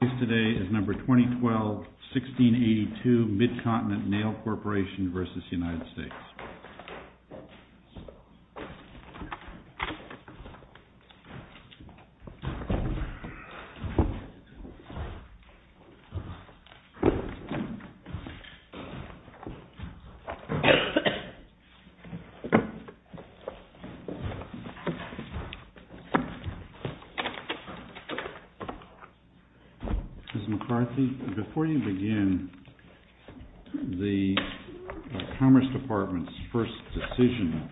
Case today is number 2012-1682, Mid-Continent Nail Corporation v. United States. Before you begin, the Commerce Department's first decision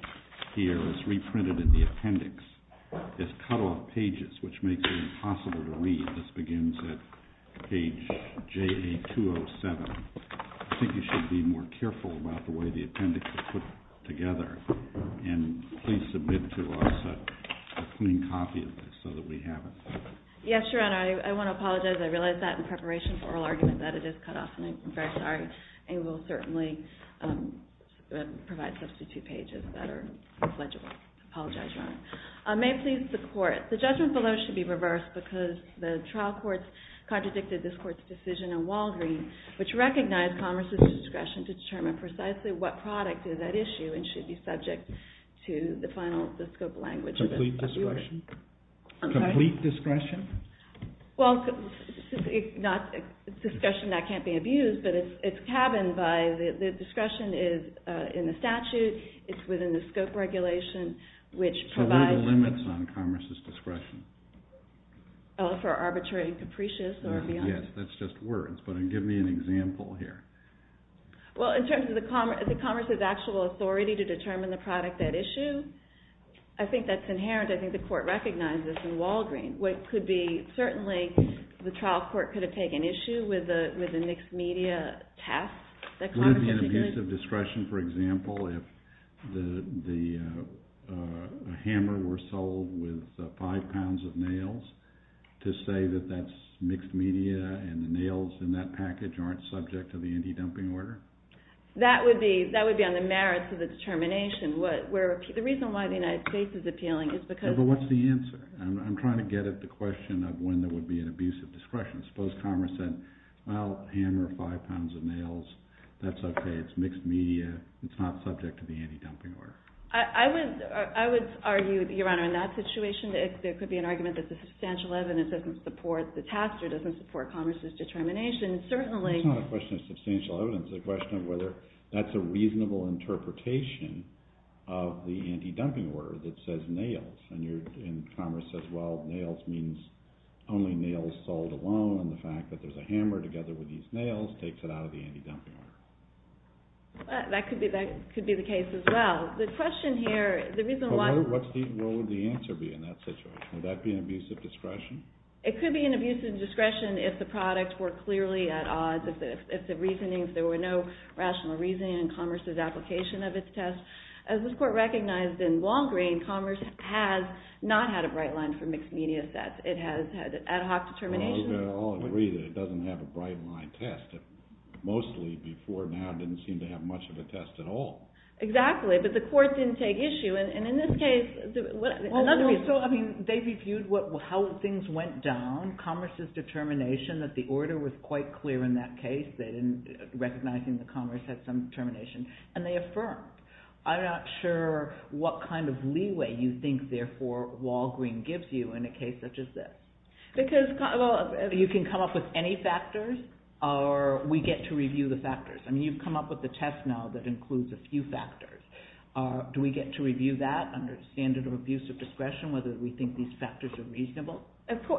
here is reprinted in the appendix. It's cut off pages, which makes it impossible to read. This begins at page JA-207. I think you should be more careful about the way the appendix is put together. And please submit to us a clean copy of this so that we have it. Yes, Your Honor, I want to apologize. I realized that in preparation for oral argument that it is cut off. I'm very sorry. And we'll certainly provide substitute pages that are legible. I apologize, Your Honor. May it please the Court, the judgment below should be reversed because the trial courts contradicted this Court's decision in Walgreens, which recognized Commerce's discretion to determine precisely what product is at issue and should be subject to the final scope of language of the abuser. Complete discretion? Complete discretion? Well, not discretion that can't be abused, but it's cabined by the discretion is in the statute, it's within the scope regulation, which provides... So what are the limits on Commerce's discretion? Oh, for arbitrary and capricious or beyond? Yes, that's just words, but give me an example here. Well, in terms of the Commerce's actual authority to determine the product at issue, I think that's inherent. I think the Court recognized this in Walgreens. It could be certainly the trial court could have taken issue with a mixed-media task. Would it be an abuse of discretion, for example, if the hammer were sold with five pounds of nails to say that that's mixed-media and the nails in that package aren't subject to the anti-dumping order? That would be on the merits of the determination. The reason why the United States is appealing is because... But what's the answer? I'm trying to get at the question of when there would be an abuse of discretion. Suppose Commerce said, well, hammer, five pounds of nails, that's okay, it's mixed-media, it's not subject to the anti-dumping order. I would argue, Your Honor, in that situation, there could be an argument that the substantial evidence doesn't support the task or doesn't support Commerce's determination. It's not a question of substantial evidence. It's a question of whether that's a reasonable interpretation of the anti-dumping order that says nails. And Commerce says, well, nails means only nails sold alone, and the fact that there's a hammer together with these nails takes it out of the anti-dumping order. That could be the case as well. The question here, the reason why... What would the answer be in that situation? Would that be an abuse of discretion? It could be an abuse of discretion if the products were clearly at odds, if there were no rational reasoning in Commerce's application of its test. As this Court recognized in Long Green, Commerce has not had a bright line for mixed-media sets. It has had an ad hoc determination... Well, we can all agree that it doesn't have a bright line test. Mostly, before now, it didn't seem to have much of a test at all. Exactly, but the Court didn't take issue. And in this case, another reason... Well, so, I mean, they reviewed how things went down, Commerce's determination that the order was quite clear in that case, recognizing that Commerce had some determination, and they affirmed. I'm not sure what kind of leeway you think, therefore, Walgreen gives you in a case such as this. Because... You can come up with any factors, or we get to review the factors. I mean, you've come up with a test now that includes a few factors. Do we get to review that under the standard of abuse of discretion, whether we think these factors are reasonable?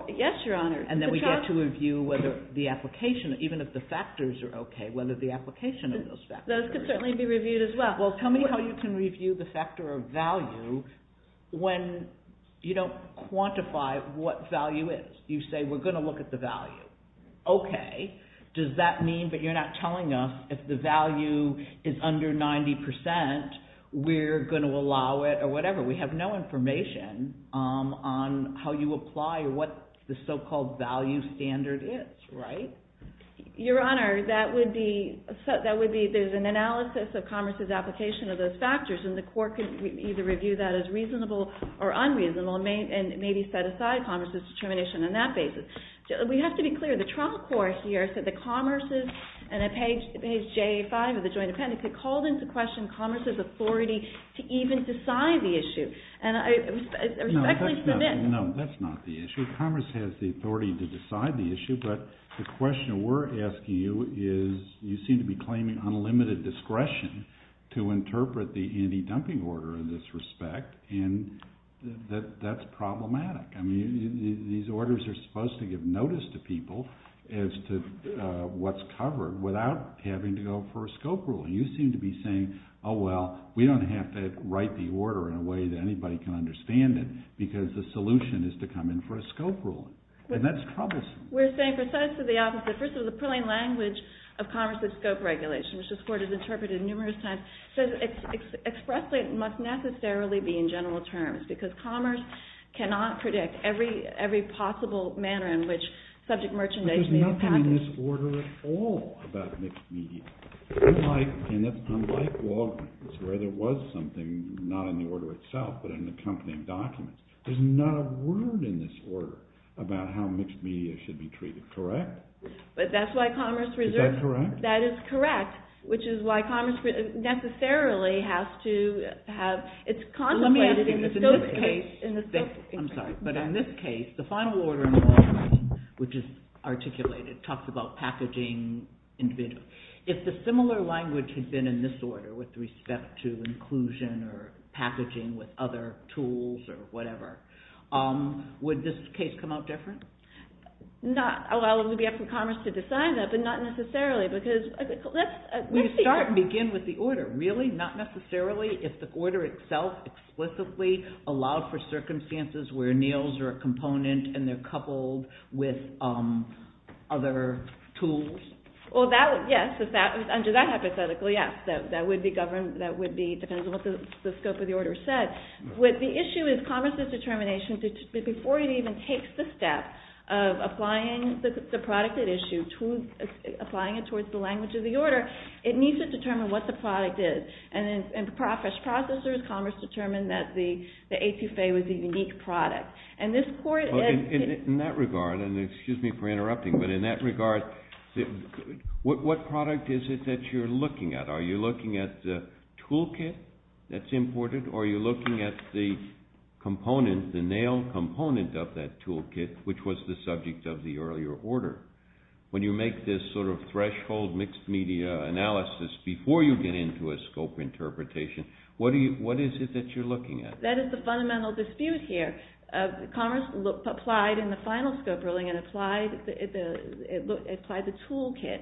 Yes, Your Honor. And then we get to review whether the application, even if the factors are okay, whether the application of those factors... Those could certainly be reviewed as well. Well, tell me how you can review the factor of value when you don't quantify what value is. You say, we're going to look at the value. Okay, does that mean that you're not telling us if the value is under 90%, we're going to allow it, or whatever? We have no information on how you apply what the so-called value standard is, right? Your Honor, that would be... There's an analysis of Commerce's application of those factors, and the court could either review that as reasonable or unreasonable, and maybe set aside Commerce's determination on that basis. We have to be clear, the trial court here said that Commerce's... And on page J5 of the joint appendix, it called into question Commerce's authority to even decide the issue. And I respectfully submit... No, that's not the issue. Commerce has the authority to decide the issue, but the question we're asking you is, you seem to be claiming unlimited discretion to interpret the anti-dumping order in this respect, and that's problematic. I mean, these orders are supposed to give notice to people as to what's covered without having to go for a scope rule. And you seem to be saying, oh, well, we don't have to write the order in a way that anybody can understand it, because the solution is to come in for a scope rule. And that's troublesome. We're saying precisely the opposite. First of all, the purling language of Commerce's scope regulation, which this Court has interpreted numerous times, says expressly it must necessarily be in general terms, because Commerce cannot predict every possible manner in which subject merchandise may be packaged. But there's nothing in this order at all about mixed media. Unlike Walgreens, where there was something not in the order itself, but in the company of documents, there's not a word in this order about how mixed media should be treated. Correct? But that's why Commerce reserves... Is that correct? That is correct, which is why Commerce necessarily has to have... Let me ask you this. In this case, the final order in the Walgreens, which is articulated, talks about packaging individuals. If the similar language had been in this order with respect to inclusion or packaging with other tools or whatever, would this case come out different? Not allow Libya from Commerce to decide that, but not necessarily, because that's... We start and begin with the order. Really? Not necessarily? If the order itself explicitly allowed for circumstances where meals are a component and they're coupled with other tools? Well, yes. Under that hypothetical, yes. That would be governed... That would be... Depends on what the scope of the order said. The issue is Commerce's determination, before it even takes the step of applying the product at issue, applying it towards the language of the order, it needs to determine what the product is. And as processors, Commerce determined that the etouffee was a unique product. And this court... In that regard, and excuse me for interrupting, but in that regard, what product is it that you're looking at? Are you looking at the toolkit that's imported, or are you looking at the component, the nail component of that toolkit, which was the subject of the earlier order? When you make this sort of threshold mixed-media analysis before you get into a scope interpretation, what is it that you're looking at? That is the fundamental dispute here. Commerce applied in the final scope ruling and applied the toolkit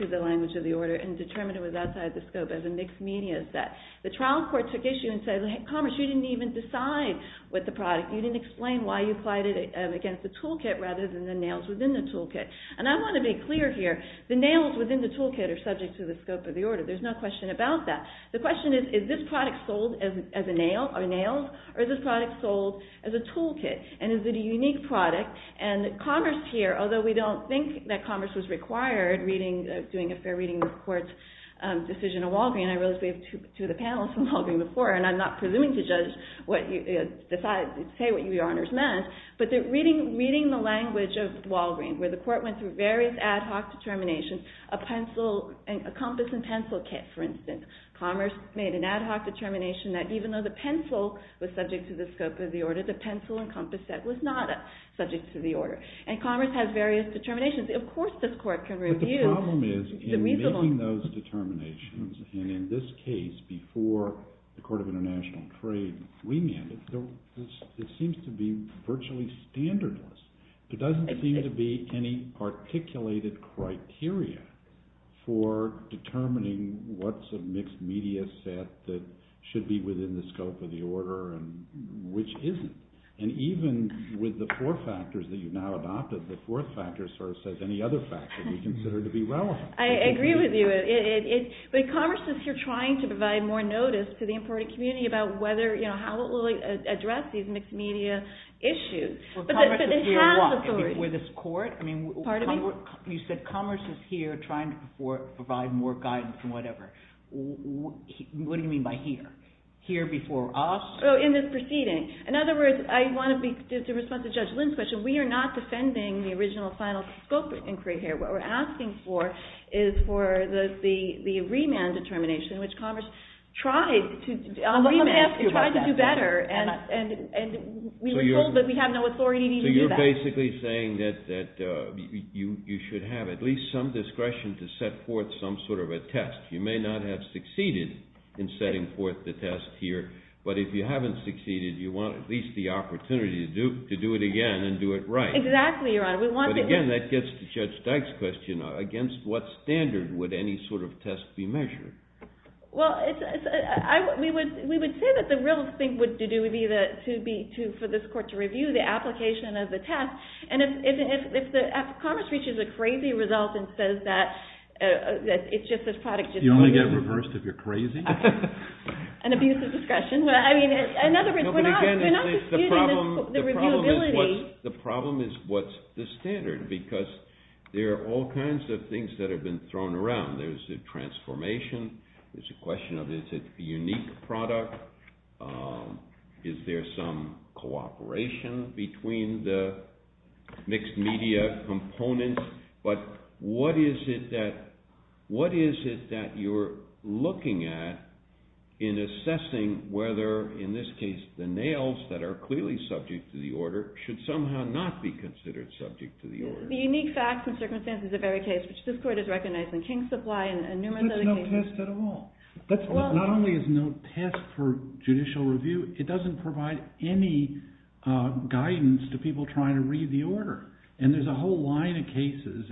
to the language of the order and determined it was outside the scope as a mixed-media set. The trial court took issue and said, Commerce, you didn't even decide what the product... You didn't explain why you applied it against the toolkit rather than the nails within the toolkit. And I want to be clear here. The nails within the toolkit are subject to the scope of the order. There's no question about that. The question is, is this product sold as a nail or nails, or is this product sold as a toolkit? And is it a unique product? And Commerce here, although we don't think that Commerce was required doing a fair reading of the court's decision of Walgreen, I realize we have two of the panelists from Walgreen before, and I'm not presuming to say what your honors meant, but they're reading the language of Walgreen where the court went through various ad hoc determinations. A compass and pencil kit, for instance. Commerce made an ad hoc determination that even though the pencil was subject to the scope of the order, the pencil and compass set was not subject to the order. And Commerce has various determinations. Of course this court can review... But the problem is, in making those determinations, and in this case before the Court of International Trade remanded, it seems to be virtually standardless. There doesn't seem to be any articulated criteria for determining what's a mixed media set that should be within the scope of the order and which isn't. And even with the four factors that you've now adopted, the fourth factor sort of says any other factor that you consider to be relevant. I agree with you. But Commerce is here trying to provide more notice to the important community about how it will address these mixed media issues. Commerce is here what? Before this court? Pardon me? You said Commerce is here trying to provide more guidance and whatever. What do you mean by here? Here before us? In this proceeding. In other words, I want to be in response to Judge Lynn's question. We are not defending the original final scope inquiry here. What we're asking for is for the remand determination, which Commerce tried to do better. And we were told that we have no authority to do that. So you're basically saying that you should have at least some discretion to set forth some sort of a test. You may not have succeeded in setting forth the test here. But if you haven't succeeded, you want at least the opportunity to do it again and do it right. Exactly, Your Honor. But again, that gets to Judge Dyke's question. Against what standard would any sort of test be measured? Well, we would say that the real thing would be for this court to review the application of the test. And if Commerce reaches a crazy result and says that it's just this product. You only get reversed if you're crazy? An abuse of discretion. In other words, we're not disputing the reviewability. The problem is what's the standard? Because there are all kinds of things that have been thrown around. There's a transformation. There's a question of is it a unique product? Is there some cooperation between the mixed media components? But what is it that you're looking at in assessing whether, in this case, the nails that are clearly subject to the order should somehow not be considered subject to the order? The unique facts and circumstances of every case, which this court has recognized in King's Supply and numerous other cases. There's no test at all. Not only is there no test for judicial review, it doesn't provide any guidance to people trying to read the order. And there's a whole line of cases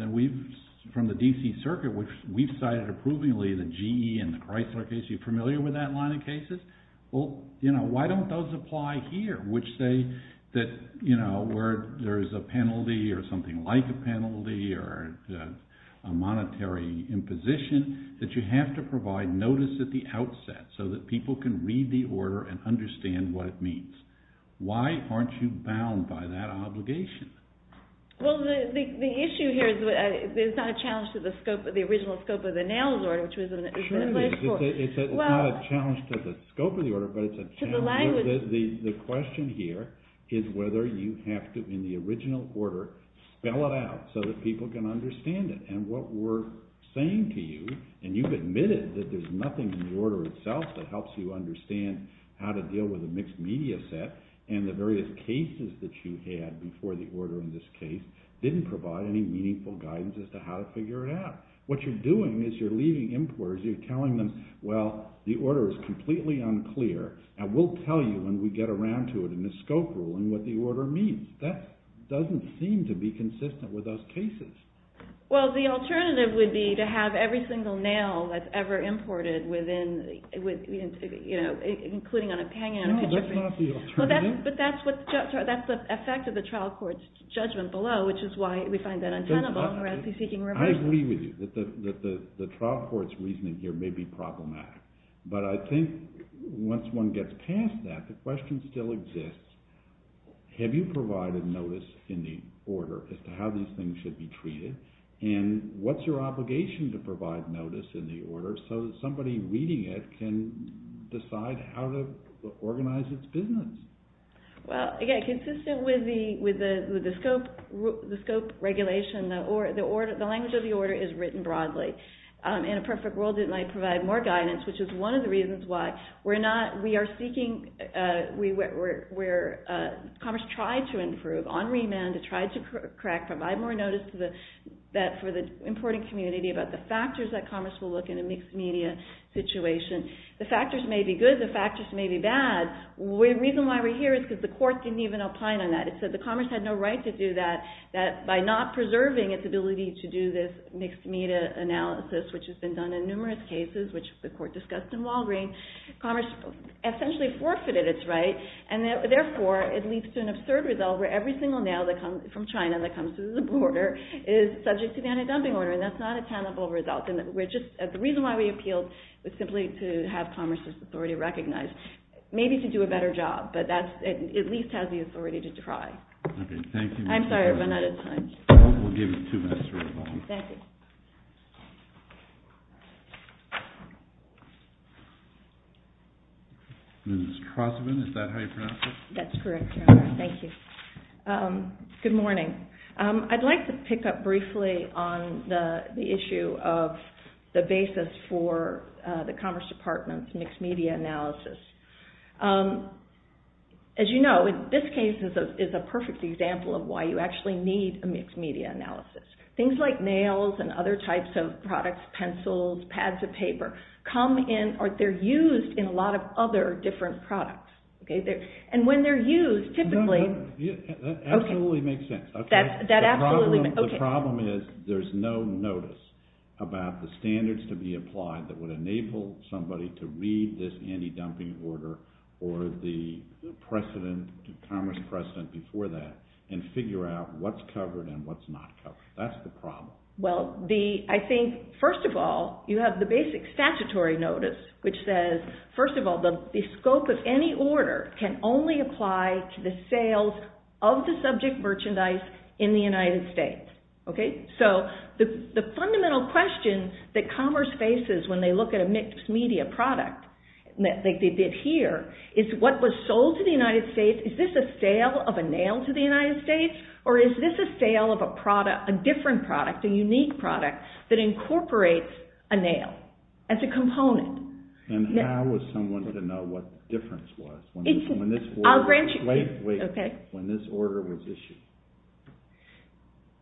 from the D.C. Circuit, which we've cited approvingly, the GE and the Chrysler case. Are you familiar with that line of cases? Well, you know, why don't those apply here? Which say that, you know, where there's a penalty or something like a penalty or a monetary imposition, that you have to provide notice at the outset so that people can read the order and understand what it means. Why aren't you bound by that obligation? Well, the issue here is there's not a challenge to the scope, the original scope of the nails order, which was in the first court. It's not a challenge to the scope of the order, but it's a challenge... To the language. The question here is whether you have to, in the original order, spell it out so that people can understand it. And what we're saying to you, and you've admitted that there's nothing in the order itself that helps you understand how to deal with a mixed media set, and the various cases that you had before the order in this case didn't provide any meaningful guidance as to how to figure it out. What you're doing is you're leaving importers, you're telling them, well, the order is completely unclear, and we'll tell you when we get around to it in the scope rule and what the order means. That doesn't seem to be consistent with those cases. Well, the alternative would be to have every single nail that's ever imported, including hanging on a picture frame. No, that's not the alternative. But that's the effect of the trial court's judgment below, which is why we find that untenable. I agree with you that the trial court's reasoning here may be problematic. But I think once one gets past that, the question still exists, have you provided notice in the order as to how these things should be treated, and what's your obligation to provide notice in the order so that somebody reading it can decide how to organize its business? Well, again, consistent with the scope regulation, the language of the order is written broadly. In a perfect world, it might provide more guidance, which is one of the reasons why we are seeking, where Commerce tried to improve on remand, provide more notice for the importing community about the factors that Commerce will look in a mixed-media situation. The factors may be good, the factors may be bad. The reason why we're here is because the court didn't even opine on that. It said that Commerce had no right to do that, that by not preserving its ability to do this mixed-media analysis, which has been done in numerous cases, which the court discussed in Walgreen, Commerce essentially forfeited its right, and therefore it leads to an absurd result where every single nail from China that comes through the border is subject to the anti-dumping order, and that's not a tenable result. The reason why we appealed was simply to have Commerce's authority recognized, maybe to do a better job, but that at least has the authority to try. Okay, thank you. I'm sorry, but not at this time. We'll give you two minutes for rebuttal. Thank you. Ms. Crossman, is that how you pronounce it? That's correct, Your Honor. Thank you. Good morning. I'd like to pick up briefly on the issue of the basis for the Commerce Department's mixed-media analysis. As you know, this case is a perfect example of why you actually need a mixed-media analysis. Things like nails and other types of products, pencils, pads of paper, come in, or they're used in a lot of other different products. And when they're used, typically... That absolutely makes sense. The problem is there's no notice about the standards to be applied that would enable somebody to read this anti-dumping order or the Commerce precedent before that and figure out what's covered and what's not covered. That's the problem. Well, I think, first of all, you have the basic statutory notice, which says, first of all, the scope of any order can only apply to the sales of the subject merchandise in the United States. Okay? So the fundamental question that commerce faces when they look at a mixed-media product, like they did here, is what was sold to the United States, is this a sale of a nail to the United States, or is this a sale of a different product, a unique product that incorporates a nail as a component? And how was someone to know what the difference was when this order was issued?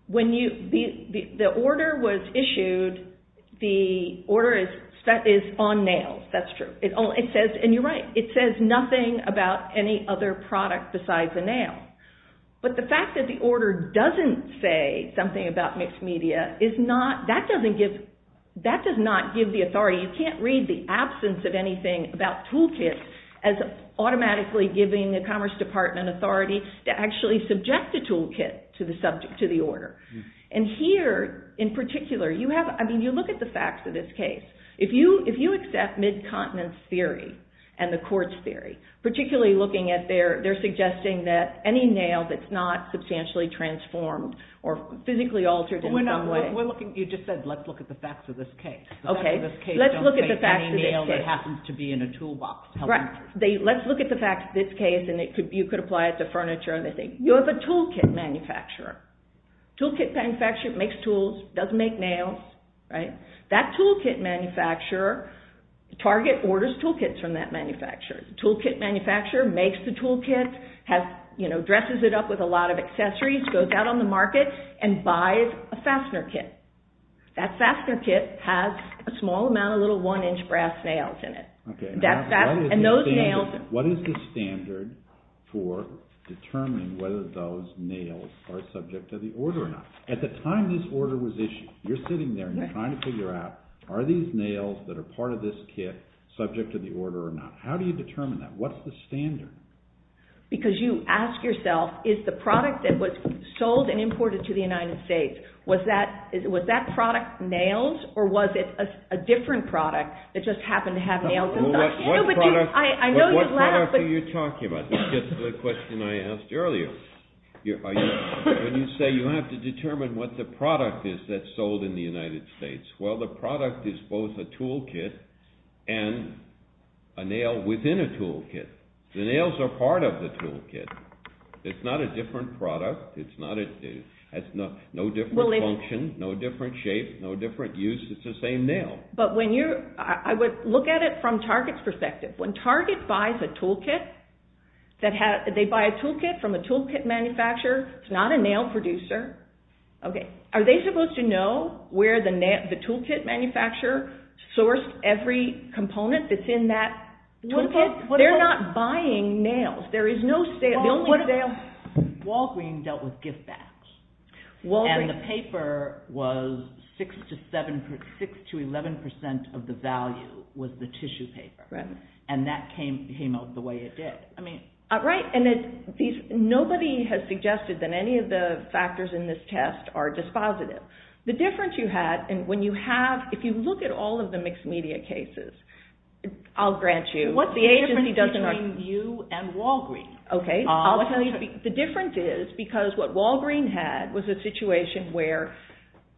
When the order was issued, the order is on nails. That's true. And you're right. It says nothing about any other product besides a nail. But the fact that the order doesn't say something about mixed-media, that does not give the authority. You can't read the absence of anything about toolkits as automatically giving the Commerce Department authority to actually subject a toolkit to the order. And here, in particular, you look at the facts of this case. If you accept mid-continence theory and the quartz theory, particularly looking at their suggesting that any nail that's not substantially transformed or physically altered in some way. You just said, let's look at the facts of this case. The facts of this case don't say any nail that happens to be in a toolbox. Right. Let's look at the facts of this case, and you could apply it to furniture. You have a toolkit manufacturer. Toolkit manufacturer makes tools, doesn't make nails. That toolkit manufacturer, Target orders toolkits from that manufacturer. Toolkit manufacturer makes the toolkit, dresses it up with a lot of accessories, goes out on the market and buys a fastener kit. That fastener kit has a small amount of little one-inch brass nails in it. Okay. What is the standard for determining whether those nails are subject to the order or not? At the time this order was issued, you're sitting there and you're trying to figure out, are these nails that are part of this kit subject to the order or not? How do you determine that? What's the standard? Because you ask yourself, is the product that was sold and imported to the United States, was that product nails or was it a different product that just happened to have nails in it? What product are you talking about? This gets to the question I asked earlier. When you say you have to determine what the product is that's sold in the United States, well, the product is both a toolkit and a nail within a toolkit. The nails are part of the toolkit. It's not a different product. It has no different function, no different shape, no different use. It's the same nail. I would look at it from Target's perspective. When Target buys a toolkit from a toolkit manufacturer, it's not a nail producer. Are they supposed to know where the toolkit manufacturer sourced every component that's in that toolkit? They're not buying nails. There is no sale. Walgreens dealt with gift bags, and the paper was 6% to 11% of the value was the tissue paper, and that came out the way it did. Right, and nobody has suggested that any of the factors in this test are dispositive. The difference you had, and when you have, if you look at all of the mixed media cases, I'll grant you, what's the difference between you and Walgreens? Okay, I'll tell you. The difference is because what Walgreens had was a situation where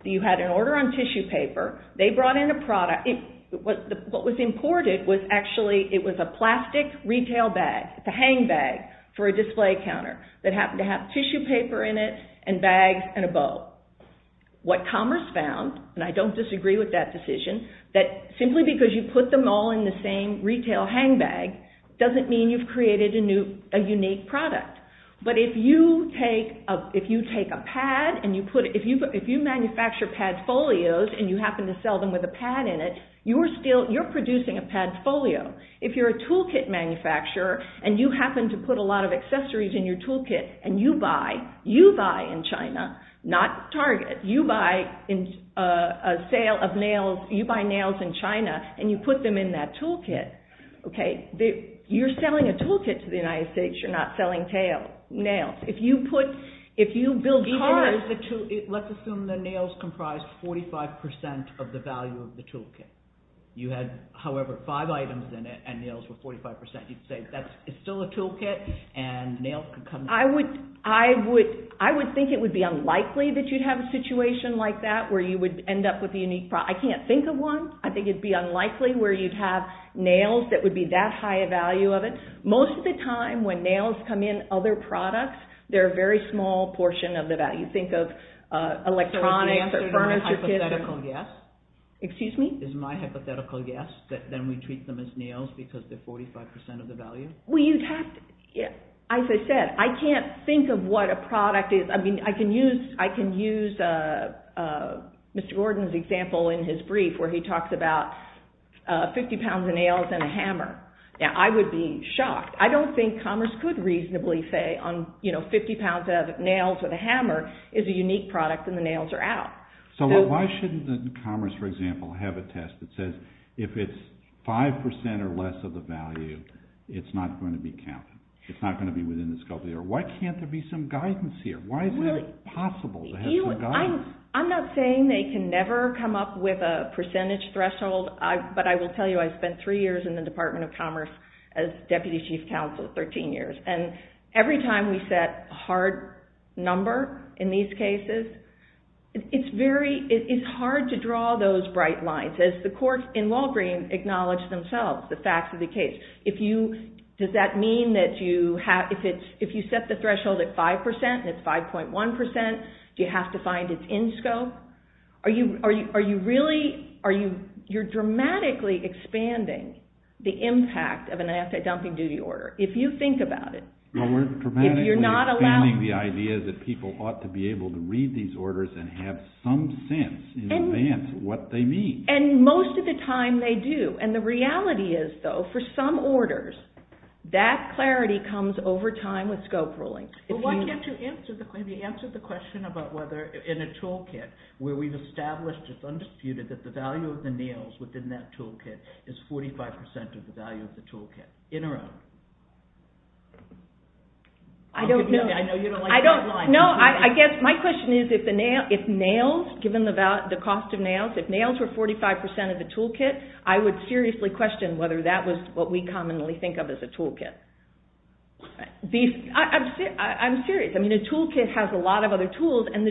you had an order on tissue paper. They brought in a product. What was imported was actually, it was a plastic retail bag, a hang bag for a display counter that happened to have tissue paper in it and bags and a bow. What Commerce found, and I don't disagree with that decision, that simply because you put them all in the same retail hang bag doesn't mean you've created a unique product. But if you take a pad and you manufacture pad folios and you happen to sell them with a pad in it, you're producing a pad folio. If you're a toolkit manufacturer and you happen to put a lot of accessories in your toolkit and you buy, you buy in China, not Target, you buy a sale of nails, you buy nails in China and you put them in that toolkit, you're selling a toolkit to the United States, you're not selling nails. If you put, if you build cars... Let's assume the nails comprise 45% of the value of the toolkit. You had, however, five items in it and nails were 45%. You'd say, it's still a toolkit and nails could come... I would think it would be unlikely that you'd have a situation like that where you would end up with a unique product. I can't think of one. I think it'd be unlikely where you'd have nails that would be that high a value of it. Most of the time when nails come in other products, they're a very small portion of the value. Think of electronics or furniture kits... So is the answer to my hypothetical guess? Excuse me? Is my hypothetical guess that then we treat them as nails because they're 45% of the value? As I said, I can't think of what a product is. I mean, I can use Mr. Gordon's example in his brief where he talks about 50 pounds of nails and a hammer. Now, I would be shocked. I don't think commerce could reasonably say 50 pounds of nails with a hammer is a unique product and the nails are out. So why shouldn't the commerce, for example, have a test that says if it's 5% or less of the value, it's not going to be counted. It's not going to be within the scope of the error. Why can't there be some guidance here? Why is it possible to have some guidance? I'm not saying they can never come up with a percentage threshold, but I will tell you I spent three years in the Department of Commerce as Deputy Chief Counsel, 13 years. And every time we set a hard number in these cases, it's hard to draw those bright lines. As the courts in Walgreen acknowledge themselves, the facts of the case, does that mean that if you set the threshold at 5% and it's 5.1%, do you have to find it's in scope? You're dramatically expanding the impact of an asset dumping duty order. If you think about it. We're dramatically expanding the idea that people ought to be able to read these orders and have some sense in advance of what they mean. And most of the time they do. And the reality is, though, for some orders, that clarity comes over time with scope ruling. Well, why can't you answer the question about whether in a toolkit where we've established it's undisputed that the value of the nails within that toolkit is 45% of the value of the toolkit, in or out? I don't know. I know you don't like that line. If nails were 45% of the toolkit, I would seriously question whether that was what we commonly think of as a toolkit. I'm serious. A toolkit has a lot of other tools, and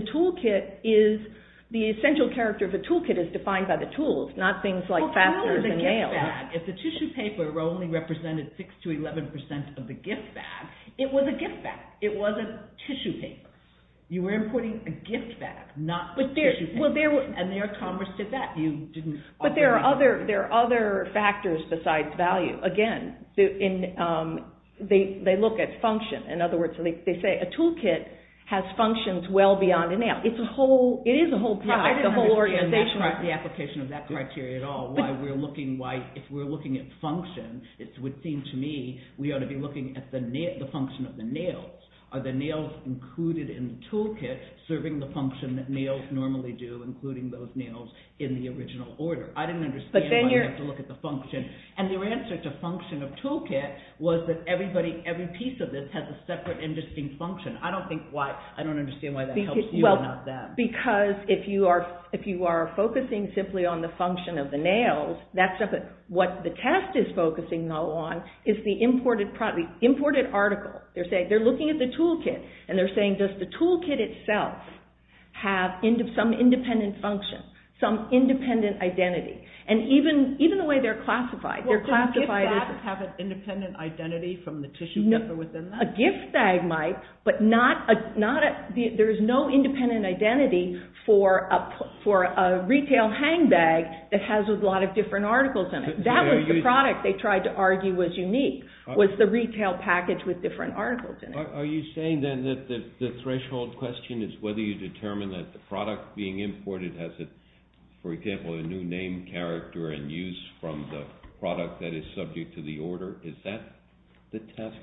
the essential character of a toolkit is defined by the tools, not things like fasteners and nails. If the tissue paper only represented 6% to 11% of the gift bag, it was a gift bag. It wasn't tissue paper. You were importing a gift bag, not tissue paper. And their commerce did that. But there are other factors besides value. Again, they look at function. In other words, they say a toolkit has functions well beyond a nail. It is a whole organization. I don't understand the application of that criteria at all. If we're looking at function, it would seem to me we ought to be looking at the function of the nails. Are the nails included in the toolkit serving the function that nails normally do, including those nails in the original order? I didn't understand why you have to look at the function. And your answer to function of toolkit was that every piece of this has a separate interesting function. I don't understand why that helps you and not them. Because if you are focusing simply on the function of the nails, what the test is focusing on is the imported article. They're looking at the toolkit, and they're saying, does the toolkit itself have some independent function, some independent identity? And even the way they're classified, they're classified as… Does a gift bag have an independent identity from the tissue paper within that? A gift bag might, but there is no independent identity for a retail hang bag that has a lot of different articles in it. That was the product they tried to argue was unique, was the retail package with different articles in it. Are you saying then that the threshold question is whether you determine that the product being imported has, for example, a new name, character, and use from the product that is subject to the order? Is that the test?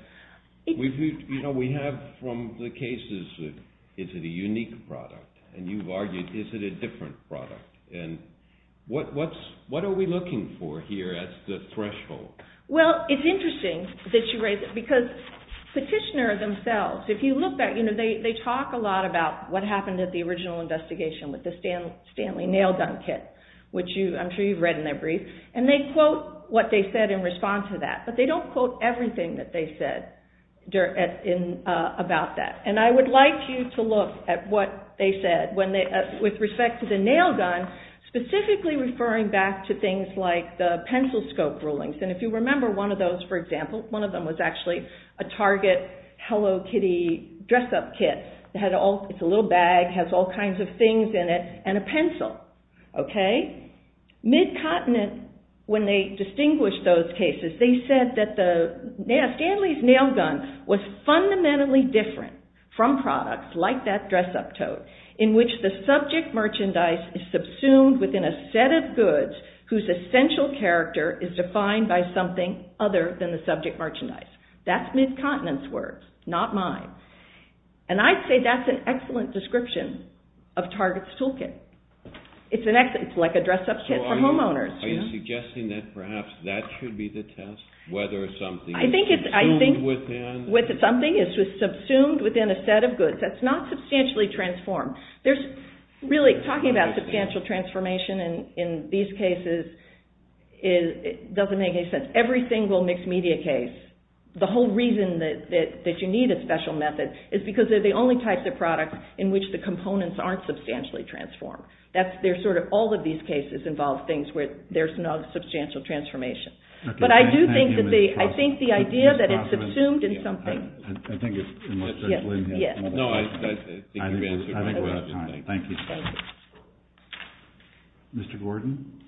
You know, we have from the cases, is it a unique product? And you've argued, is it a different product? And what are we looking for here as the threshold? Well, it's interesting that you raise it, because petitioners themselves, if you look back, they talk a lot about what happened at the original investigation with the Stanley nail gun kit, which I'm sure you've read in their brief, and they quote what they said in response to that. But they don't quote everything that they said about that. And I would like you to look at what they said with respect to the nail gun, specifically referring back to things like the pencil scope rulings. And if you remember one of those, for example, one of them was actually a Target Hello Kitty dress-up kit. It's a little bag, has all kinds of things in it, and a pencil. Mid-continent, when they distinguished those cases, they said that Stanley's nail gun was fundamentally different from products like that dress-up tote, in which the subject merchandise is subsumed within a set of goods whose essential character is defined by something other than the subject merchandise. That's mid-continent's words, not mine. And I'd say that's an excellent description of Target's toolkit. It's like a dress-up kit for homeowners. So are you suggesting that perhaps that should be the test? Whether something is subsumed within... I think something is subsumed within a set of goods. That's not substantially transformed. Really, talking about substantial transformation in these cases doesn't make any sense. Every single mixed-media case, the whole reason that you need a special method is because they're the only types of products in which the components aren't substantially transformed. All of these cases involve things where there's no substantial transformation. But I do think the idea that it's subsumed in something... I think we're out of time. Thank you. Thank you. Mr. Gordon?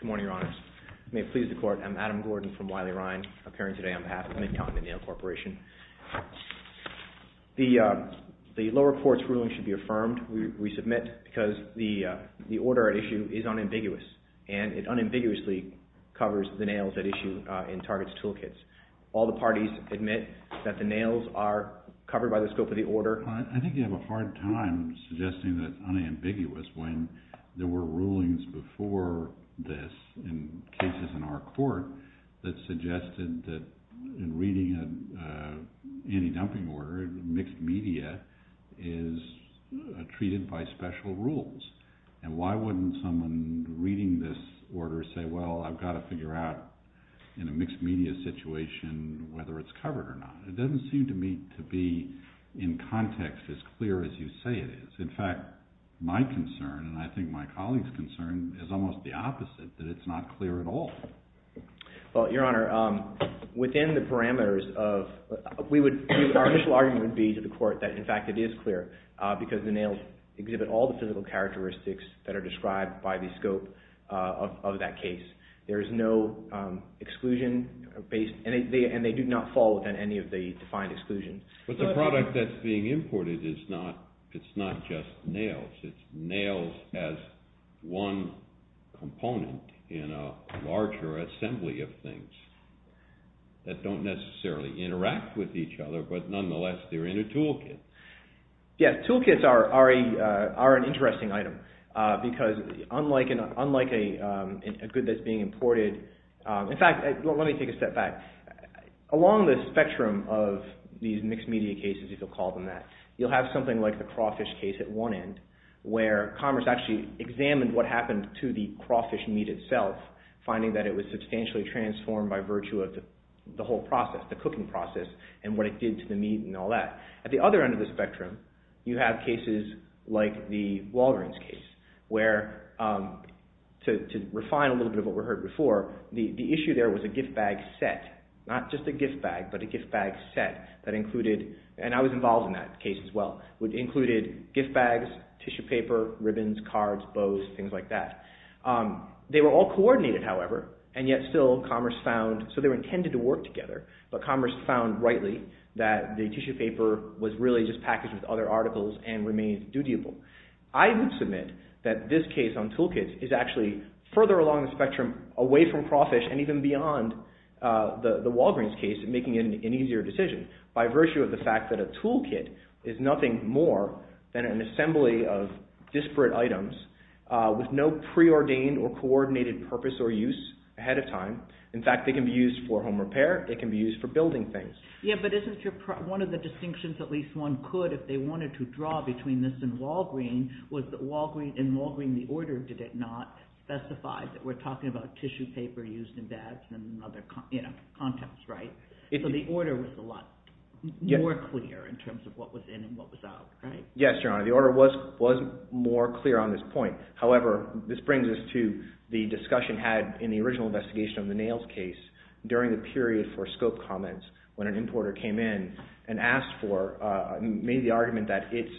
Good morning, Your Honors. May it please the Court. I'm Adam Gordon from Wiley-Ryan, appearing today on behalf of the Mid-Continent Nail Corporation. The lower court's ruling should be affirmed. We submit because the order at issue is unambiguous, and it unambiguously covers the nails at issue in Target's toolkits. All the parties admit that the nails are covered by the scope of the order. I think you have a hard time suggesting that it's unambiguous when there were rulings before this in cases in our court that suggested that in reading an anti-dumping order, mixed media is treated by special rules. And why wouldn't someone reading this order say, well, I've got to figure out in a mixed media situation whether it's covered or not? It doesn't seem to me to be in context as clear as you say it is. In fact, my concern, and I think my colleagues' concern, is almost the opposite, that it's not clear at all. Well, Your Honor, within the parameters of... Our initial argument would be to the court that, in fact, it is clear because the nails exhibit all the physical characteristics that are described by the scope of that case. There is no exclusion, and they do not fall within any of the defined exclusions. But the product that's being imported, it's not just nails. It's nails as one component in a larger assembly of things that don't necessarily interact with each other, but nonetheless they're in a toolkit. Yes, toolkits are an interesting item because unlike a good that's being imported... In fact, let me take a step back. Along the spectrum of these mixed media cases, if you'll call them that, you'll have something like the crawfish case at one end where Commerce actually examined what happened to the crawfish meat itself, finding that it was substantially transformed by virtue of the whole process, the cooking process, and what it did to the meat and all that. At the other end of the spectrum, you have cases like the Walgreens case where, to refine a little bit of what we heard before, the issue there was a gift bag set. Not just a gift bag, but a gift bag set that included... And I was involved in that case as well. It included gift bags, tissue paper, ribbons, cards, bows, things like that. They were all coordinated, however, and yet still Commerce found... So they were intended to work together, but Commerce found, rightly, that the tissue paper was really just packaged with other articles and remained dutiable. I would submit that this case on toolkits is actually further along the spectrum away from crawfish and even beyond the Walgreens case in making it an easier decision by virtue of the fact that a toolkit is nothing more than an assembly of disparate items with no preordained or coordinated purpose or use ahead of time. In fact, they can be used for home repair. They can be used for building things. Yeah, but isn't your... One of the distinctions at least one could if they wanted to draw between this and Walgreens was that in Walgreens, the order did not specify that we're talking about tissue paper used in bags and other contents, right? So the order was a lot more clear in terms of what was in and what was out, right? Yes, Your Honor. The order was more clear on this point. However, this brings us to the discussion had in the original investigation of the nails case during the period for scope comments when an importer came in and asked for, made the argument that its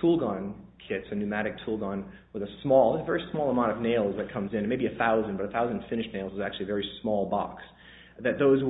tool gun kits, a pneumatic tool gun with a small, a very small amount of nails that comes in, maybe 1,000, but 1,000 finished nails is actually a very small box, that those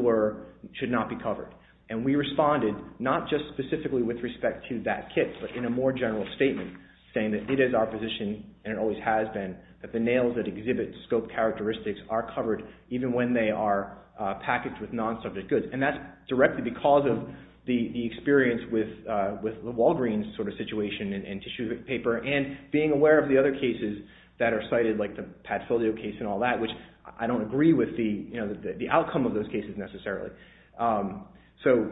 should not be covered. And we responded not just specifically with respect to that kit, but in a more general statement saying that it is our position and it always has been that the nails that exhibit scope characteristics are covered even when they are packaged with non-subject goods. And that's directly because of the experience with the Walgreens sort of situation and tissue paper and being aware of the other cases that are cited like the Pat Filio case and all that, which I don't agree with the outcome of those cases necessarily. So...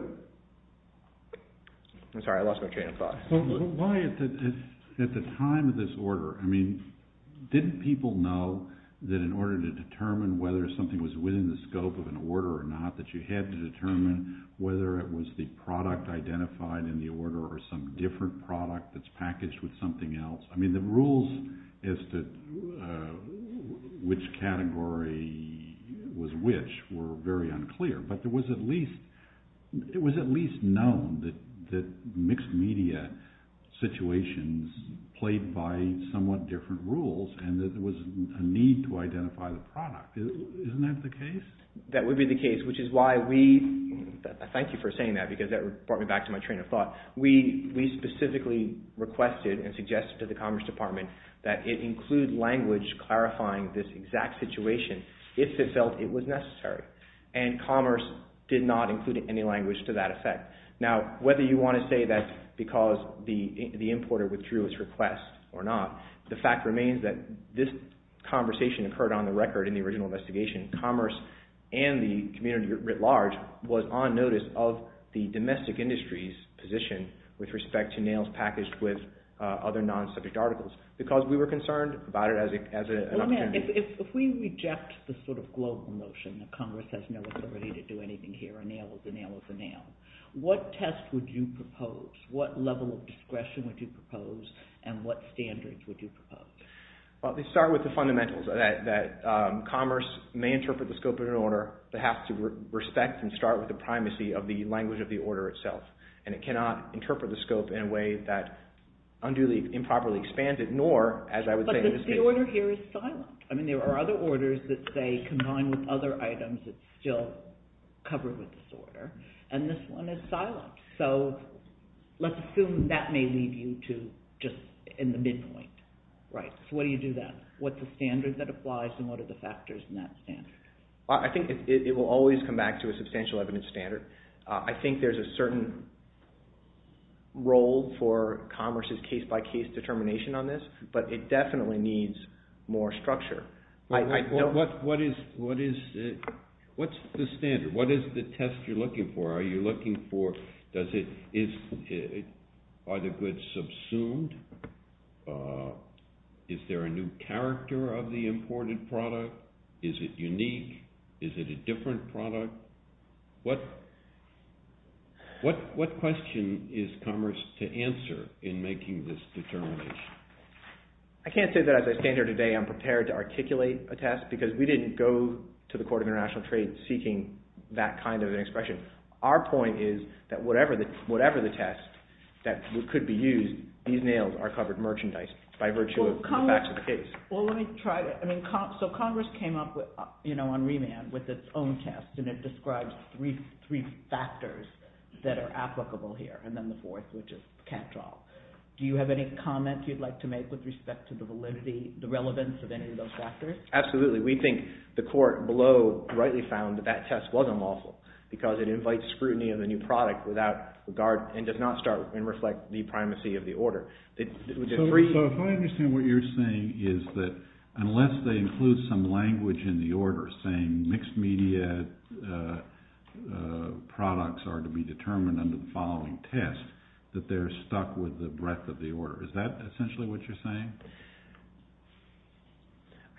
I'm sorry, I lost my train of thought. Why, at the time of this order, I mean, didn't people know that in order to determine whether something was within the scope of an order or not that you had to determine whether it was the product identified in the order or some different product that's packaged with something else? I mean, the rules as to which category was which were very unclear, but it was at least known that mixed-media situations played by somewhat different rules and that there was a need to identify the product. Isn't that the case? That would be the case, which is why we... Thank you for saying that because that brought me back to my train of thought. We specifically requested and suggested to the Commerce Department that it include language clarifying this exact situation if it felt it was necessary, and Commerce did not include any language to that effect. Now, whether you want to say that's because the importer withdrew its request or not, the fact remains that this conversation occurred on the record in the original investigation. Commerce and the community writ large was on notice of the domestic industry's position with respect to nails packaged with other non-subject articles because we were concerned about it as an opportunity. If we reject the sort of global notion that Congress has no authority to do anything here, a nail is a nail is a nail, what test would you propose? What level of discretion would you propose? And what standards would you propose? Well, they start with the fundamentals that Commerce may interpret the scope of an order but has to respect and start with the primacy of the language of the order itself. And it cannot interpret the scope in a way that unduly improperly expands it, nor, as I would say... But the order here is silent. I mean, there are other orders that say, combined with other items, it's still covered with this order. And this one is silent. So let's assume that may lead you to just in the midpoint. Right. So what do you do then? What's the standard that applies and what are the factors in that standard? I think it will always come back to a substantial evidence standard. I think there's a certain role for Commerce's case-by-case determination on this, but it definitely needs more structure. What's the standard? What is the test you're looking for? Are you looking for... Are the goods subsumed? Is there a new character of the imported product? Is it unique? Is it a different product? What question is Commerce to answer in making this determination? I can't say that as I stand here today I'm prepared to articulate a test because we didn't go to the Court of International Trade seeking that kind of an expression. Our point is that whatever the test that could be used, these nails are covered merchandise by virtue of the facts of the case. Well, let me try to... So Congress came up on remand with its own test and it describes three factors that are applicable here and then the fourth, which is catch-all. Do you have any comment you'd like to make with respect to the validity, the relevance of any of those factors? Absolutely. We think the Court below rightly found that that test was unlawful because it invites scrutiny of the new product and does not start and reflect the primacy of the order. So if I understand what you're saying is that unless they include some language in the order saying mixed-media products are to be determined under the following test that they're stuck with the breadth of the order. Is that essentially what you're saying?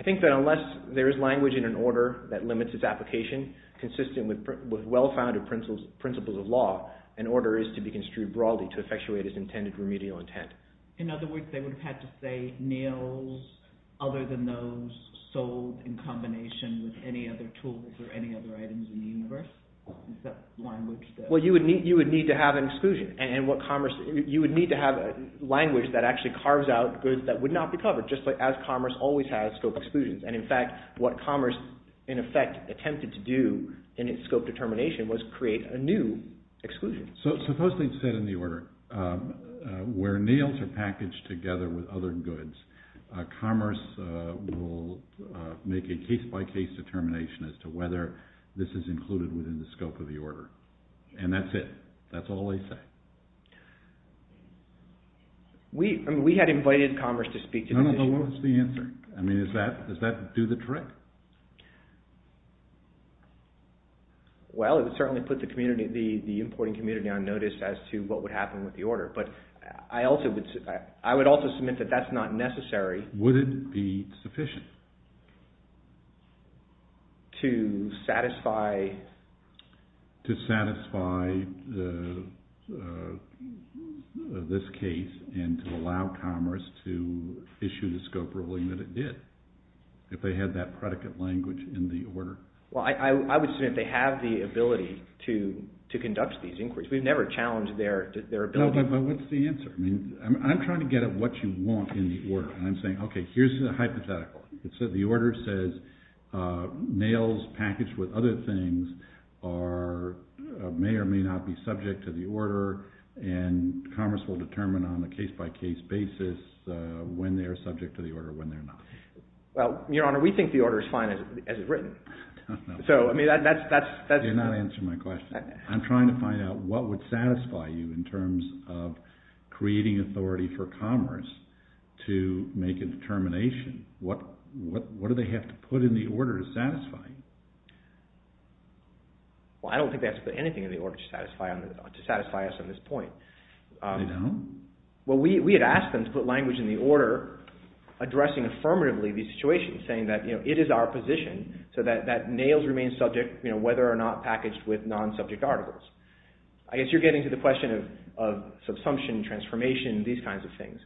I think that unless there is language in an order that limits its application consistent with well-founded principles of law, an order is to be construed broadly to effectuate its intended remedial intent. In other words, they would have had to say nails other than those sold in combination with any other tools or any other items in the universe? Well, you would need to have an exclusion and you would need to have language that actually carves out goods that would not be covered just as commerce always has scope exclusions. And in fact, what commerce in effect attempted to do in its scope determination was create a new exclusion. So suppose they've said in the order where nails are packaged together with other goods, commerce will make a case-by-case determination as to whether this is included within the scope of the order. And that's it. That's all they say. We had invited commerce to speak to this issue. No, no. What was the answer? I mean, does that do the trick? Well, it would certainly put the importing community on notice as to what would happen with the order. But I would also submit that that's not necessary. Would it be sufficient? To satisfy... To satisfy this case and to allow commerce to issue the scope ruling that it did if they had that predicate language in the order? Well, I would assume that they have the ability to conduct these inquiries. We've never challenged their ability. No, but what's the answer? I mean, I'm trying to get at what you want in the order and I'm saying, okay, here's the hypothetical. The order says nails packaged with other things may or may not be subject to the order and commerce will determine on a case-by-case basis when they are subject to the order, when they're not. Well, Your Honor, we think the order is fine as it's written. So, I mean, that's... You're not answering my question. I'm trying to find out what would satisfy you in terms of creating authority for commerce to make a determination. What do they have to put in the order to satisfy? Well, I don't think they have to put anything in the order to satisfy us on this point. They don't? Well, we had asked them to put language in the order addressing affirmatively these situations saying that, you know, it is our position so that nails remain subject, you know, whether or not packaged with non-subject articles. transformation, these kinds of things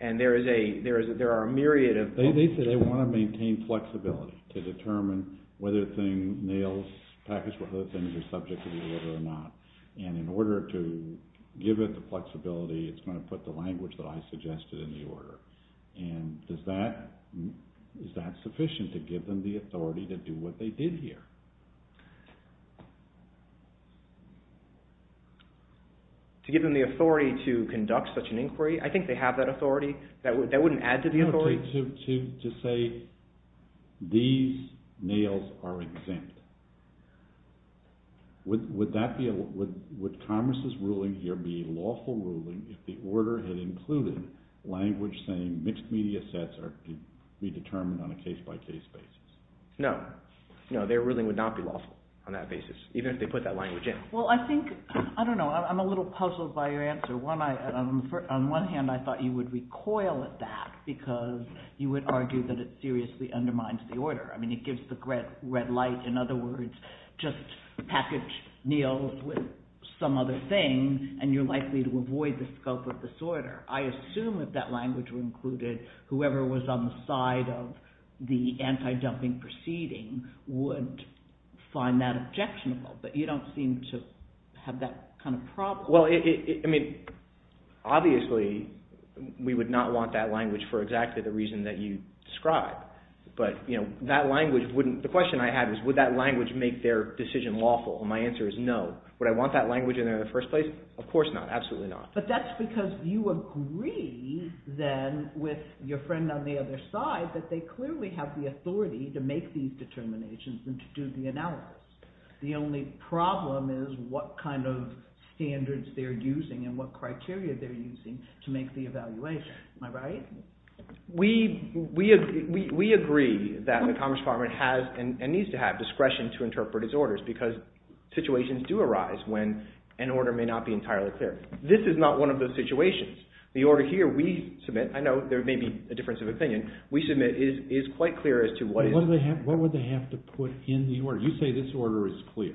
and there are a myriad of... They say they want to maintain flexibility to determine whether things, nails packaged with other things are subject to the order or not. And in order to give it the flexibility, it's going to put the language that I suggested in the order. And is that sufficient to give them the authority to do what they did here? To give them the authority to conduct such an inquiry? I think they have that authority. That wouldn't add to the authority? To say these nails are exempt. Would commerce's ruling here be a lawful ruling if the order had included language saying mixed media sets are to be determined on a case-by-case basis? No. No, their ruling would not be lawful on that basis, even if they put that language in. Well, I think, I don't know, I'm a little puzzled by your answer. On one hand, I thought you would recoil at that because you would argue that it seriously undermines the order. I mean, it gives the red light. In other words, just package nails with some other thing and you're likely to avoid the scope of disorder. I assume if that language were included, whoever was on the side of the anti-dumping proceeding would find that objectionable. But you don't seem to have that kind of problem. Well, I mean, obviously we would not want that language for exactly the reason that you described. But, you know, that language wouldn't... The question I have is would that language make their decision lawful? And my answer is no. Would I want that language in there in the first place? Of course not, absolutely not. But that's because you agree then with your friend on the other side that they clearly have the authority to make these determinations and to do the analysis. The only problem is what kind of standards they're using and what criteria they're using to make the evaluation. Am I right? We agree that the Commerce Department has and needs to have discretion to interpret its orders because situations do arise when an order may not be entirely clear. This is not one of those situations. The order here we submit, I know there may be a difference of opinion, we submit is quite clear as to what is... What would they have to put in the order? You say this order is clear.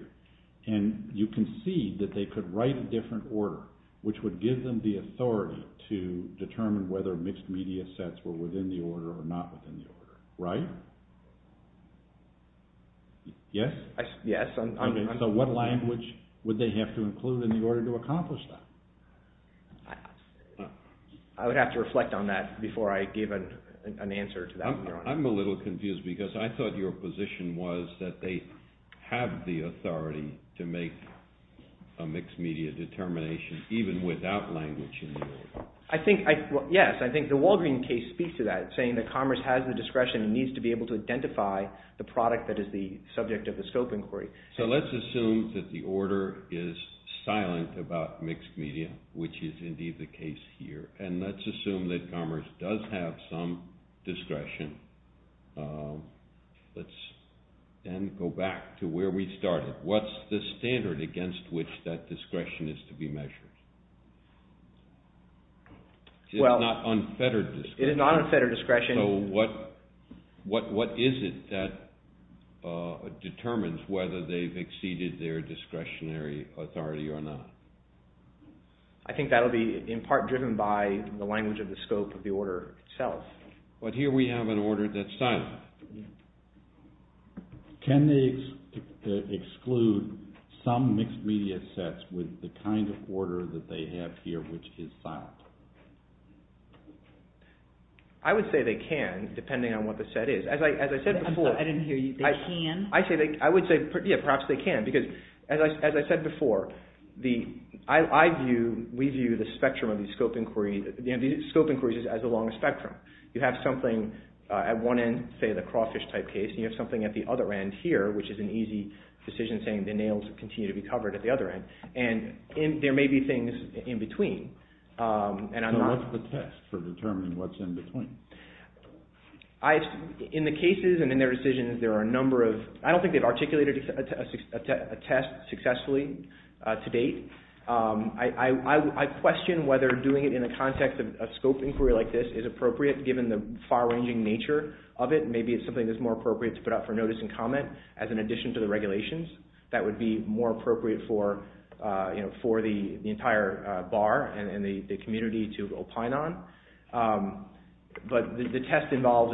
And you concede that they could write a different order which would give them the authority to determine whether mixed media sets were within the order or not within the order, right? Yes? Yes. Okay, so what language would they have to include in the order to accomplish that? I would have to reflect on that before I give an answer to that one. I'm a little confused because I thought your position was that they have the authority to make a mixed media determination even without language in the order. Yes, I think the Walgreen case speaks to that, saying that Commerce has the discretion and needs to be able to identify the product that is the subject of the scope inquiry. So let's assume that the order is silent about mixed media, which is indeed the case here, and let's assume that Commerce does have some discretion. Let's then go back to where we started. What's the standard against which that discretion is to be measured? It is not unfettered discretion. It is not unfettered discretion. So what is it that determines whether they've exceeded their discretionary authority or not? I think that will be in part driven by the language of the scope of the order itself. But here we have an order that's silent. Can they exclude some mixed media sets with the kind of order that they have here, which is silent? I would say they can, depending on what the set is. I'm sorry, I didn't hear you. They can? I would say perhaps they can, because as I said before, we view the scope inquiries as along a spectrum. You have something at one end, say the crawfish type case, and you have something at the other end here, which is an easy decision saying the nails continue to be covered at the other end. And there may be things in between. So what's the test for determining what's in between? In the cases and in their decisions, there are a number of... I don't think they've articulated a test successfully to date. I question whether doing it in the context of a scope inquiry like this is appropriate given the far-ranging nature of it. Maybe it's something that's more appropriate to put up for notice and comment as an addition to the regulations. That would be more appropriate for the entire bar and the community to opine on. But the test involves...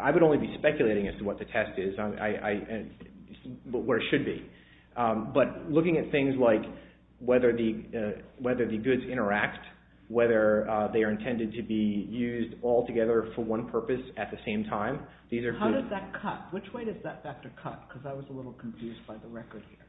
I would only be speculating as to what the test is, what it should be. But looking at things like whether the goods interact, whether they are intended to be used altogether for one purpose at the same time, these are... How does that cut? Which way does that factor cut? Because I was a little confused by the record here.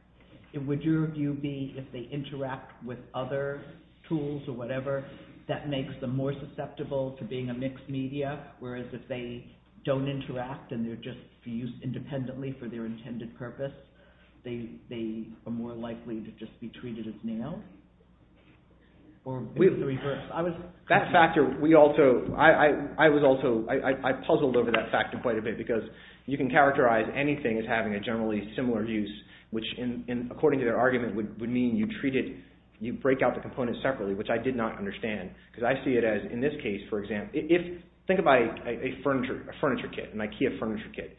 Would your view be if they interact with other tools or whatever, that makes them more susceptible to being a mixed media, whereas if they don't interact and they're just used independently for their intended purpose, they are more likely to just be treated as nails? That factor, we also... I was also... I puzzled over that factor quite a bit because you can characterize anything as having a generally similar use, which, according to their argument, would mean you treat it... you break out the components separately, which I did not understand. Because I see it as, in this case, for example... Think about a furniture kit, an IKEA furniture kit.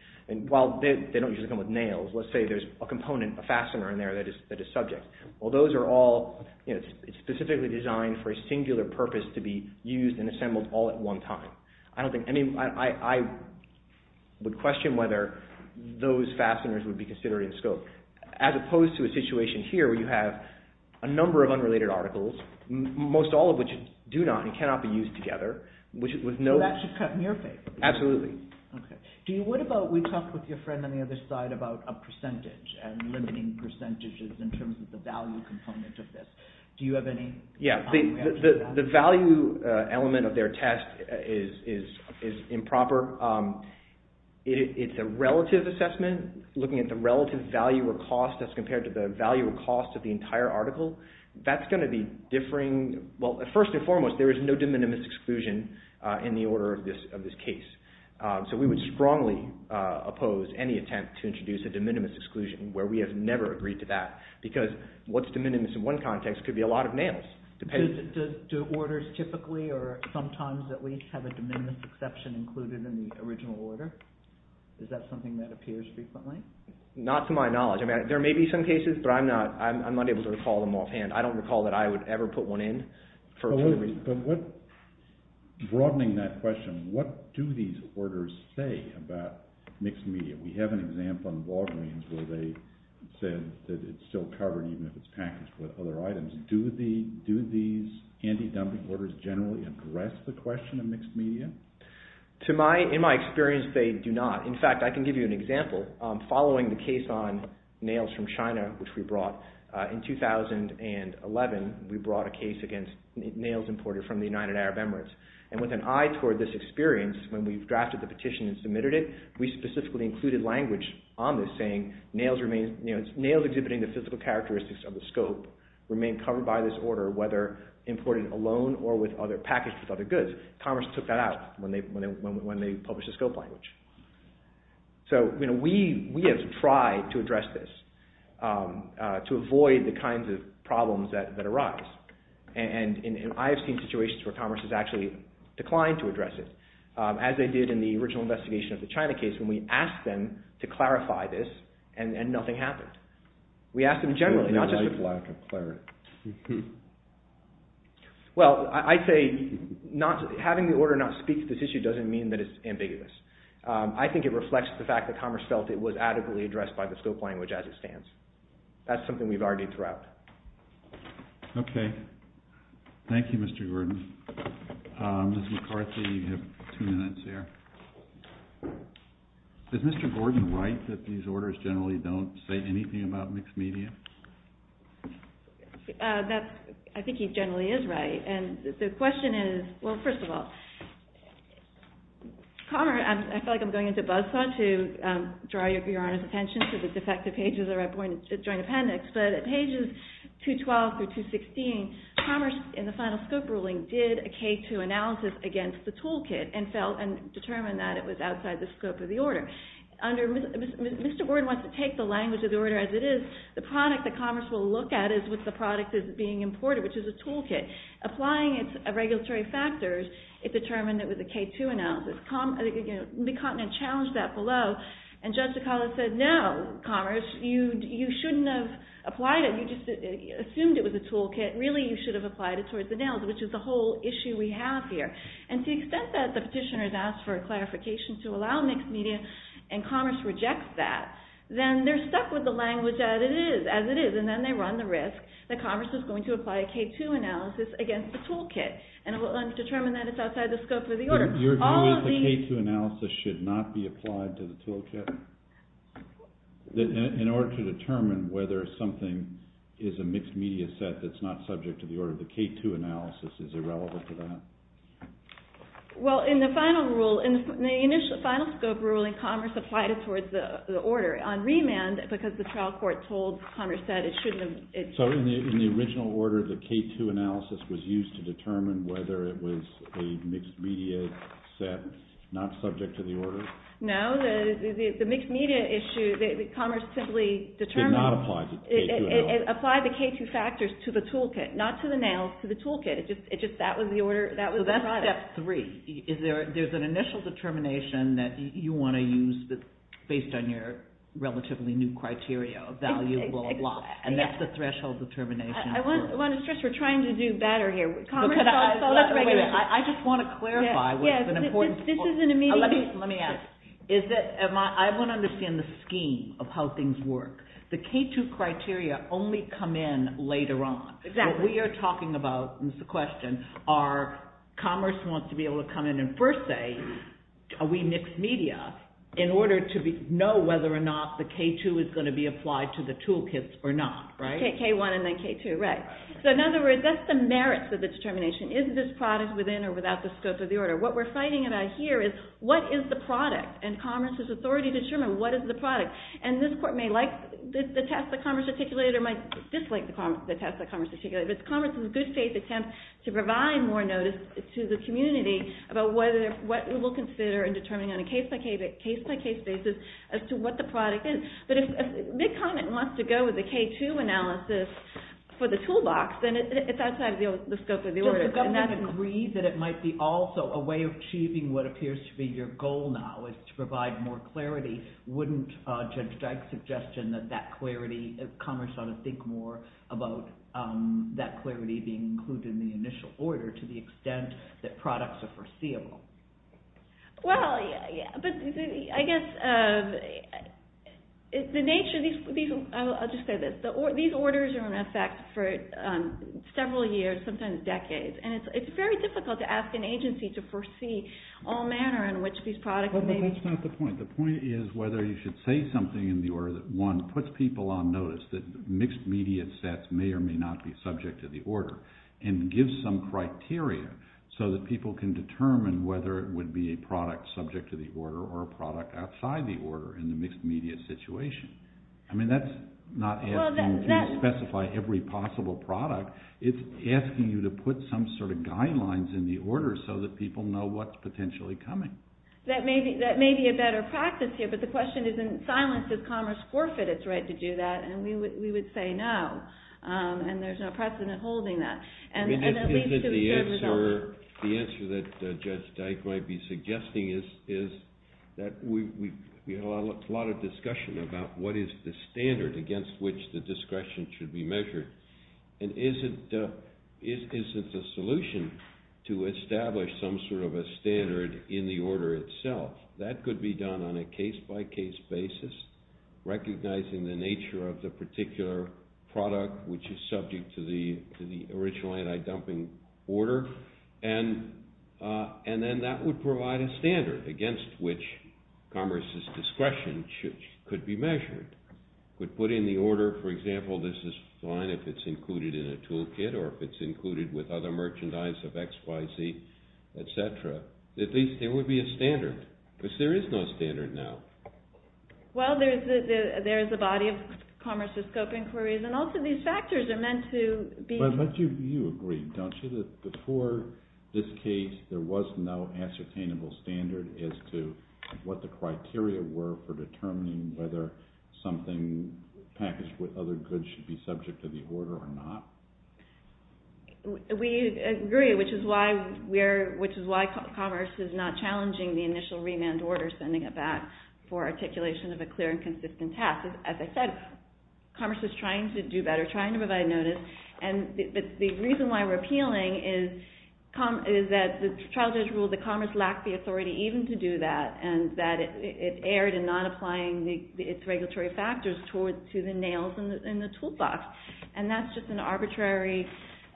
While they don't usually come with nails, let's say there's a component, a fastener in there that is subject. Well, those are all... It's specifically designed for a singular purpose to be used and assembled all at one time. I don't think any... I would question whether those fasteners would be considered in scope, as opposed to a situation here where you have a number of unrelated articles, most all of which do not and cannot be used together, which is with no... So that should cut in your favor? OK. What about... We talked with your friend on the other side about a percentage and limiting percentages in terms of the value component of this. Do you have any... Yeah. The value element of their test is improper. It's a relative assessment, looking at the relative value or cost as compared to the value or cost of the entire article. That's going to be differing... Well, first and foremost, there is no de minimis exclusion in the order of this case. So we would strongly oppose any attempt to introduce a de minimis exclusion where we have never agreed to that because what's de minimis in one context could be a lot of nails. Do orders typically or sometimes at least have a de minimis exception included in the original order? Is that something that appears frequently? Not to my knowledge. I mean, there may be some cases, but I'm not able to recall them offhand. I don't recall that I would ever put one in. Broadening that question, what do these orders say about mixed media? We have an example on Walgreens where they said that it's still covered even if it's packaged with other items. Do these anti-dumping orders generally address the question of mixed media? In my experience, they do not. In fact, I can give you an example. Following the case on nails from China, which we brought, in 2011, we brought a case against nails imported from the United Arab Emirates. And with an eye toward this experience, when we drafted the petition and submitted it, we specifically included language on this saying, nails exhibiting the physical characteristics of the scope remain covered by this order, whether imported alone or packaged with other goods. Commerce took that out when they published the scope language. So, we have tried to address this, to avoid the kinds of problems that arise. And I've seen situations where commerce has actually declined to address it. As they did in the original investigation of the China case, when we asked them to clarify this, and nothing happened. We asked them generally, not just... Well, I'd say having the order not speak to this issue doesn't mean that it's ambiguous. I think it reflects the fact that commerce felt it was adequately addressed by the scope language as it stands. That's something we've already threw out. Okay. Thank you, Mr. Gordon. Ms. McCarthy, you have two minutes there. Is Mr. Gordon right that these orders generally don't say anything about mixed media? I think he generally is right. And the question is, well, first of all... Commerce, I feel like I'm going into buzz thought to draw your Honor's attention to the defective pages of the joint appendix. But at pages 212 through 216, commerce, in the final scope ruling, did a K-2 analysis against the toolkit and determined that it was outside the scope of the order. Mr. Gordon wants to take the language of the order as it is. The product that commerce will look at is what the product is being imported, which is a toolkit. Applying its regulatory factors, it determined it was a K-2 analysis. The continent challenged that below, and Judge DeCarlo said, no, commerce, you shouldn't have applied it. You just assumed it was a toolkit. Really, you should have applied it towards the nails, which is the whole issue we have here. And to the extent that the petitioner has asked for a clarification to allow mixed media and commerce rejects that, then they're stuck with the language as it is. And then they run the risk that commerce is going to apply a K-2 analysis against the toolkit and determine that it's outside the scope of the order. Your view is the K-2 analysis should not be applied to the toolkit? In order to determine whether something is a mixed media set that's not subject to the order, the K-2 analysis is irrelevant to that? Well, in the final rule, in the final scope ruling, commerce applied it towards the order. On remand, because the trial court told commerce that it shouldn't have... So in the original order, the K-2 analysis was used to determine whether it was a mixed media set not subject to the order? No, the mixed media issue, commerce simply determined... Applied the K-2 factors to the toolkit, not to the nails, to the toolkit. It's just that was the order, that was the product. So that's step three. There's an initial determination that you want to use based on your relatively new criteria, valuable or not, and that's the threshold determination. I want to stress we're trying to do better here. Wait a minute, I just want to clarify... This is an immediate... Let me ask. I want to understand the scheme of how things work. The K-2 criteria only come in later on. Exactly. What we are talking about is the question, our commerce wants to be able to come in and first say, are we mixed media, in order to know whether or not the K-2 is going to be applied to the toolkits or not, right? K-1 and then K-2, right. So in other words, that's the merits of the determination. Is this product within or without the scope of the order? What we're fighting about here is what is the product? And commerce's authority to determine what is the product. And this court may like the test that commerce articulated or might dislike the test that commerce articulated, but commerce is a good faith attempt to provide more notice to the community about what we will consider in determining on a case-by-case basis as to what the product is. But if Big Comet wants to go with the K-2 analysis for the toolbox, then it's outside the scope of the order. So if the government agrees that it might be also a way of achieving what appears to be your goal now, is to provide more clarity, wouldn't Judge Dyke's suggestion that that clarity, commerce ought to think more about that clarity being included in the initial order to the extent that products are foreseeable? Well, yeah. But I guess the nature of these, I'll just say this, these orders are in effect for several years, sometimes decades. And it's very difficult to ask an agency to foresee all manner in which these products may be. Well, but that's not the point. The point is whether you should say something in the order that, one, puts people on notice that mixed-media sets may or may not be subject to the order and gives some criteria so that people can determine whether it would be a product subject to the order or a product outside the order in the mixed-media situation. I mean, that's not asking you to specify every possible product. It's asking you to put some sort of guidelines in the order so that people know what's potentially coming. That may be a better practice here, but the question isn't silenced. Is commerce forfeit its right to do that? And we would say no. And there's no precedent holding that. And that leads to a certain result. The answer that Judge Dyke might be suggesting is that we had a lot of discussion about what is the standard against which the discretion should be measured. And is it the solution to establish some sort of a standard in the order itself? That could be done on a case-by-case basis, recognizing the nature of the particular product which is subject to the original anti-dumping order. And then that would provide a standard against which commerce's discretion could be measured. Could put in the order, for example, this is fine if it's included in a toolkit or if it's included with other merchandise of XYZ, etc. At least there would be a standard, because there is no standard now. Well, there is a body of commerce's scope inquiries, and also these factors are meant to be... But you agree, don't you, that before this case, there was no ascertainable standard as to what the criteria were for determining whether something packaged with other goods should be subject to the order or not? We agree, which is why commerce is not challenging the initial remand order, sending it back for articulation of a clear and consistent task. As I said, commerce is trying to do better, trying to provide notice. But the reason why we're appealing is that the Child Judge ruled that commerce lacked the authority even to do that and that it erred in not applying its regulatory factors to the nails in the toolbox. And that's just an arbitrary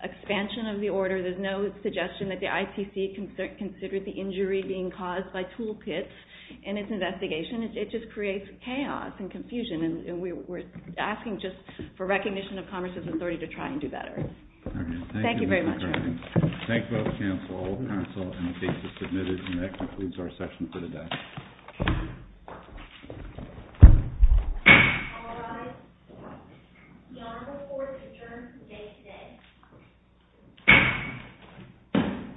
expansion of the order. There's no suggestion that the ITC considered the injury being caused by toolkits in its investigation. It just creates chaos and confusion, and we're asking just for recognition of commerce's authority to try and do better. Thank you very much. Thank you both counsel, all counsel, and the cases submitted. And that concludes our session for today. All rise. The Honorable Court is adjourned for the day today.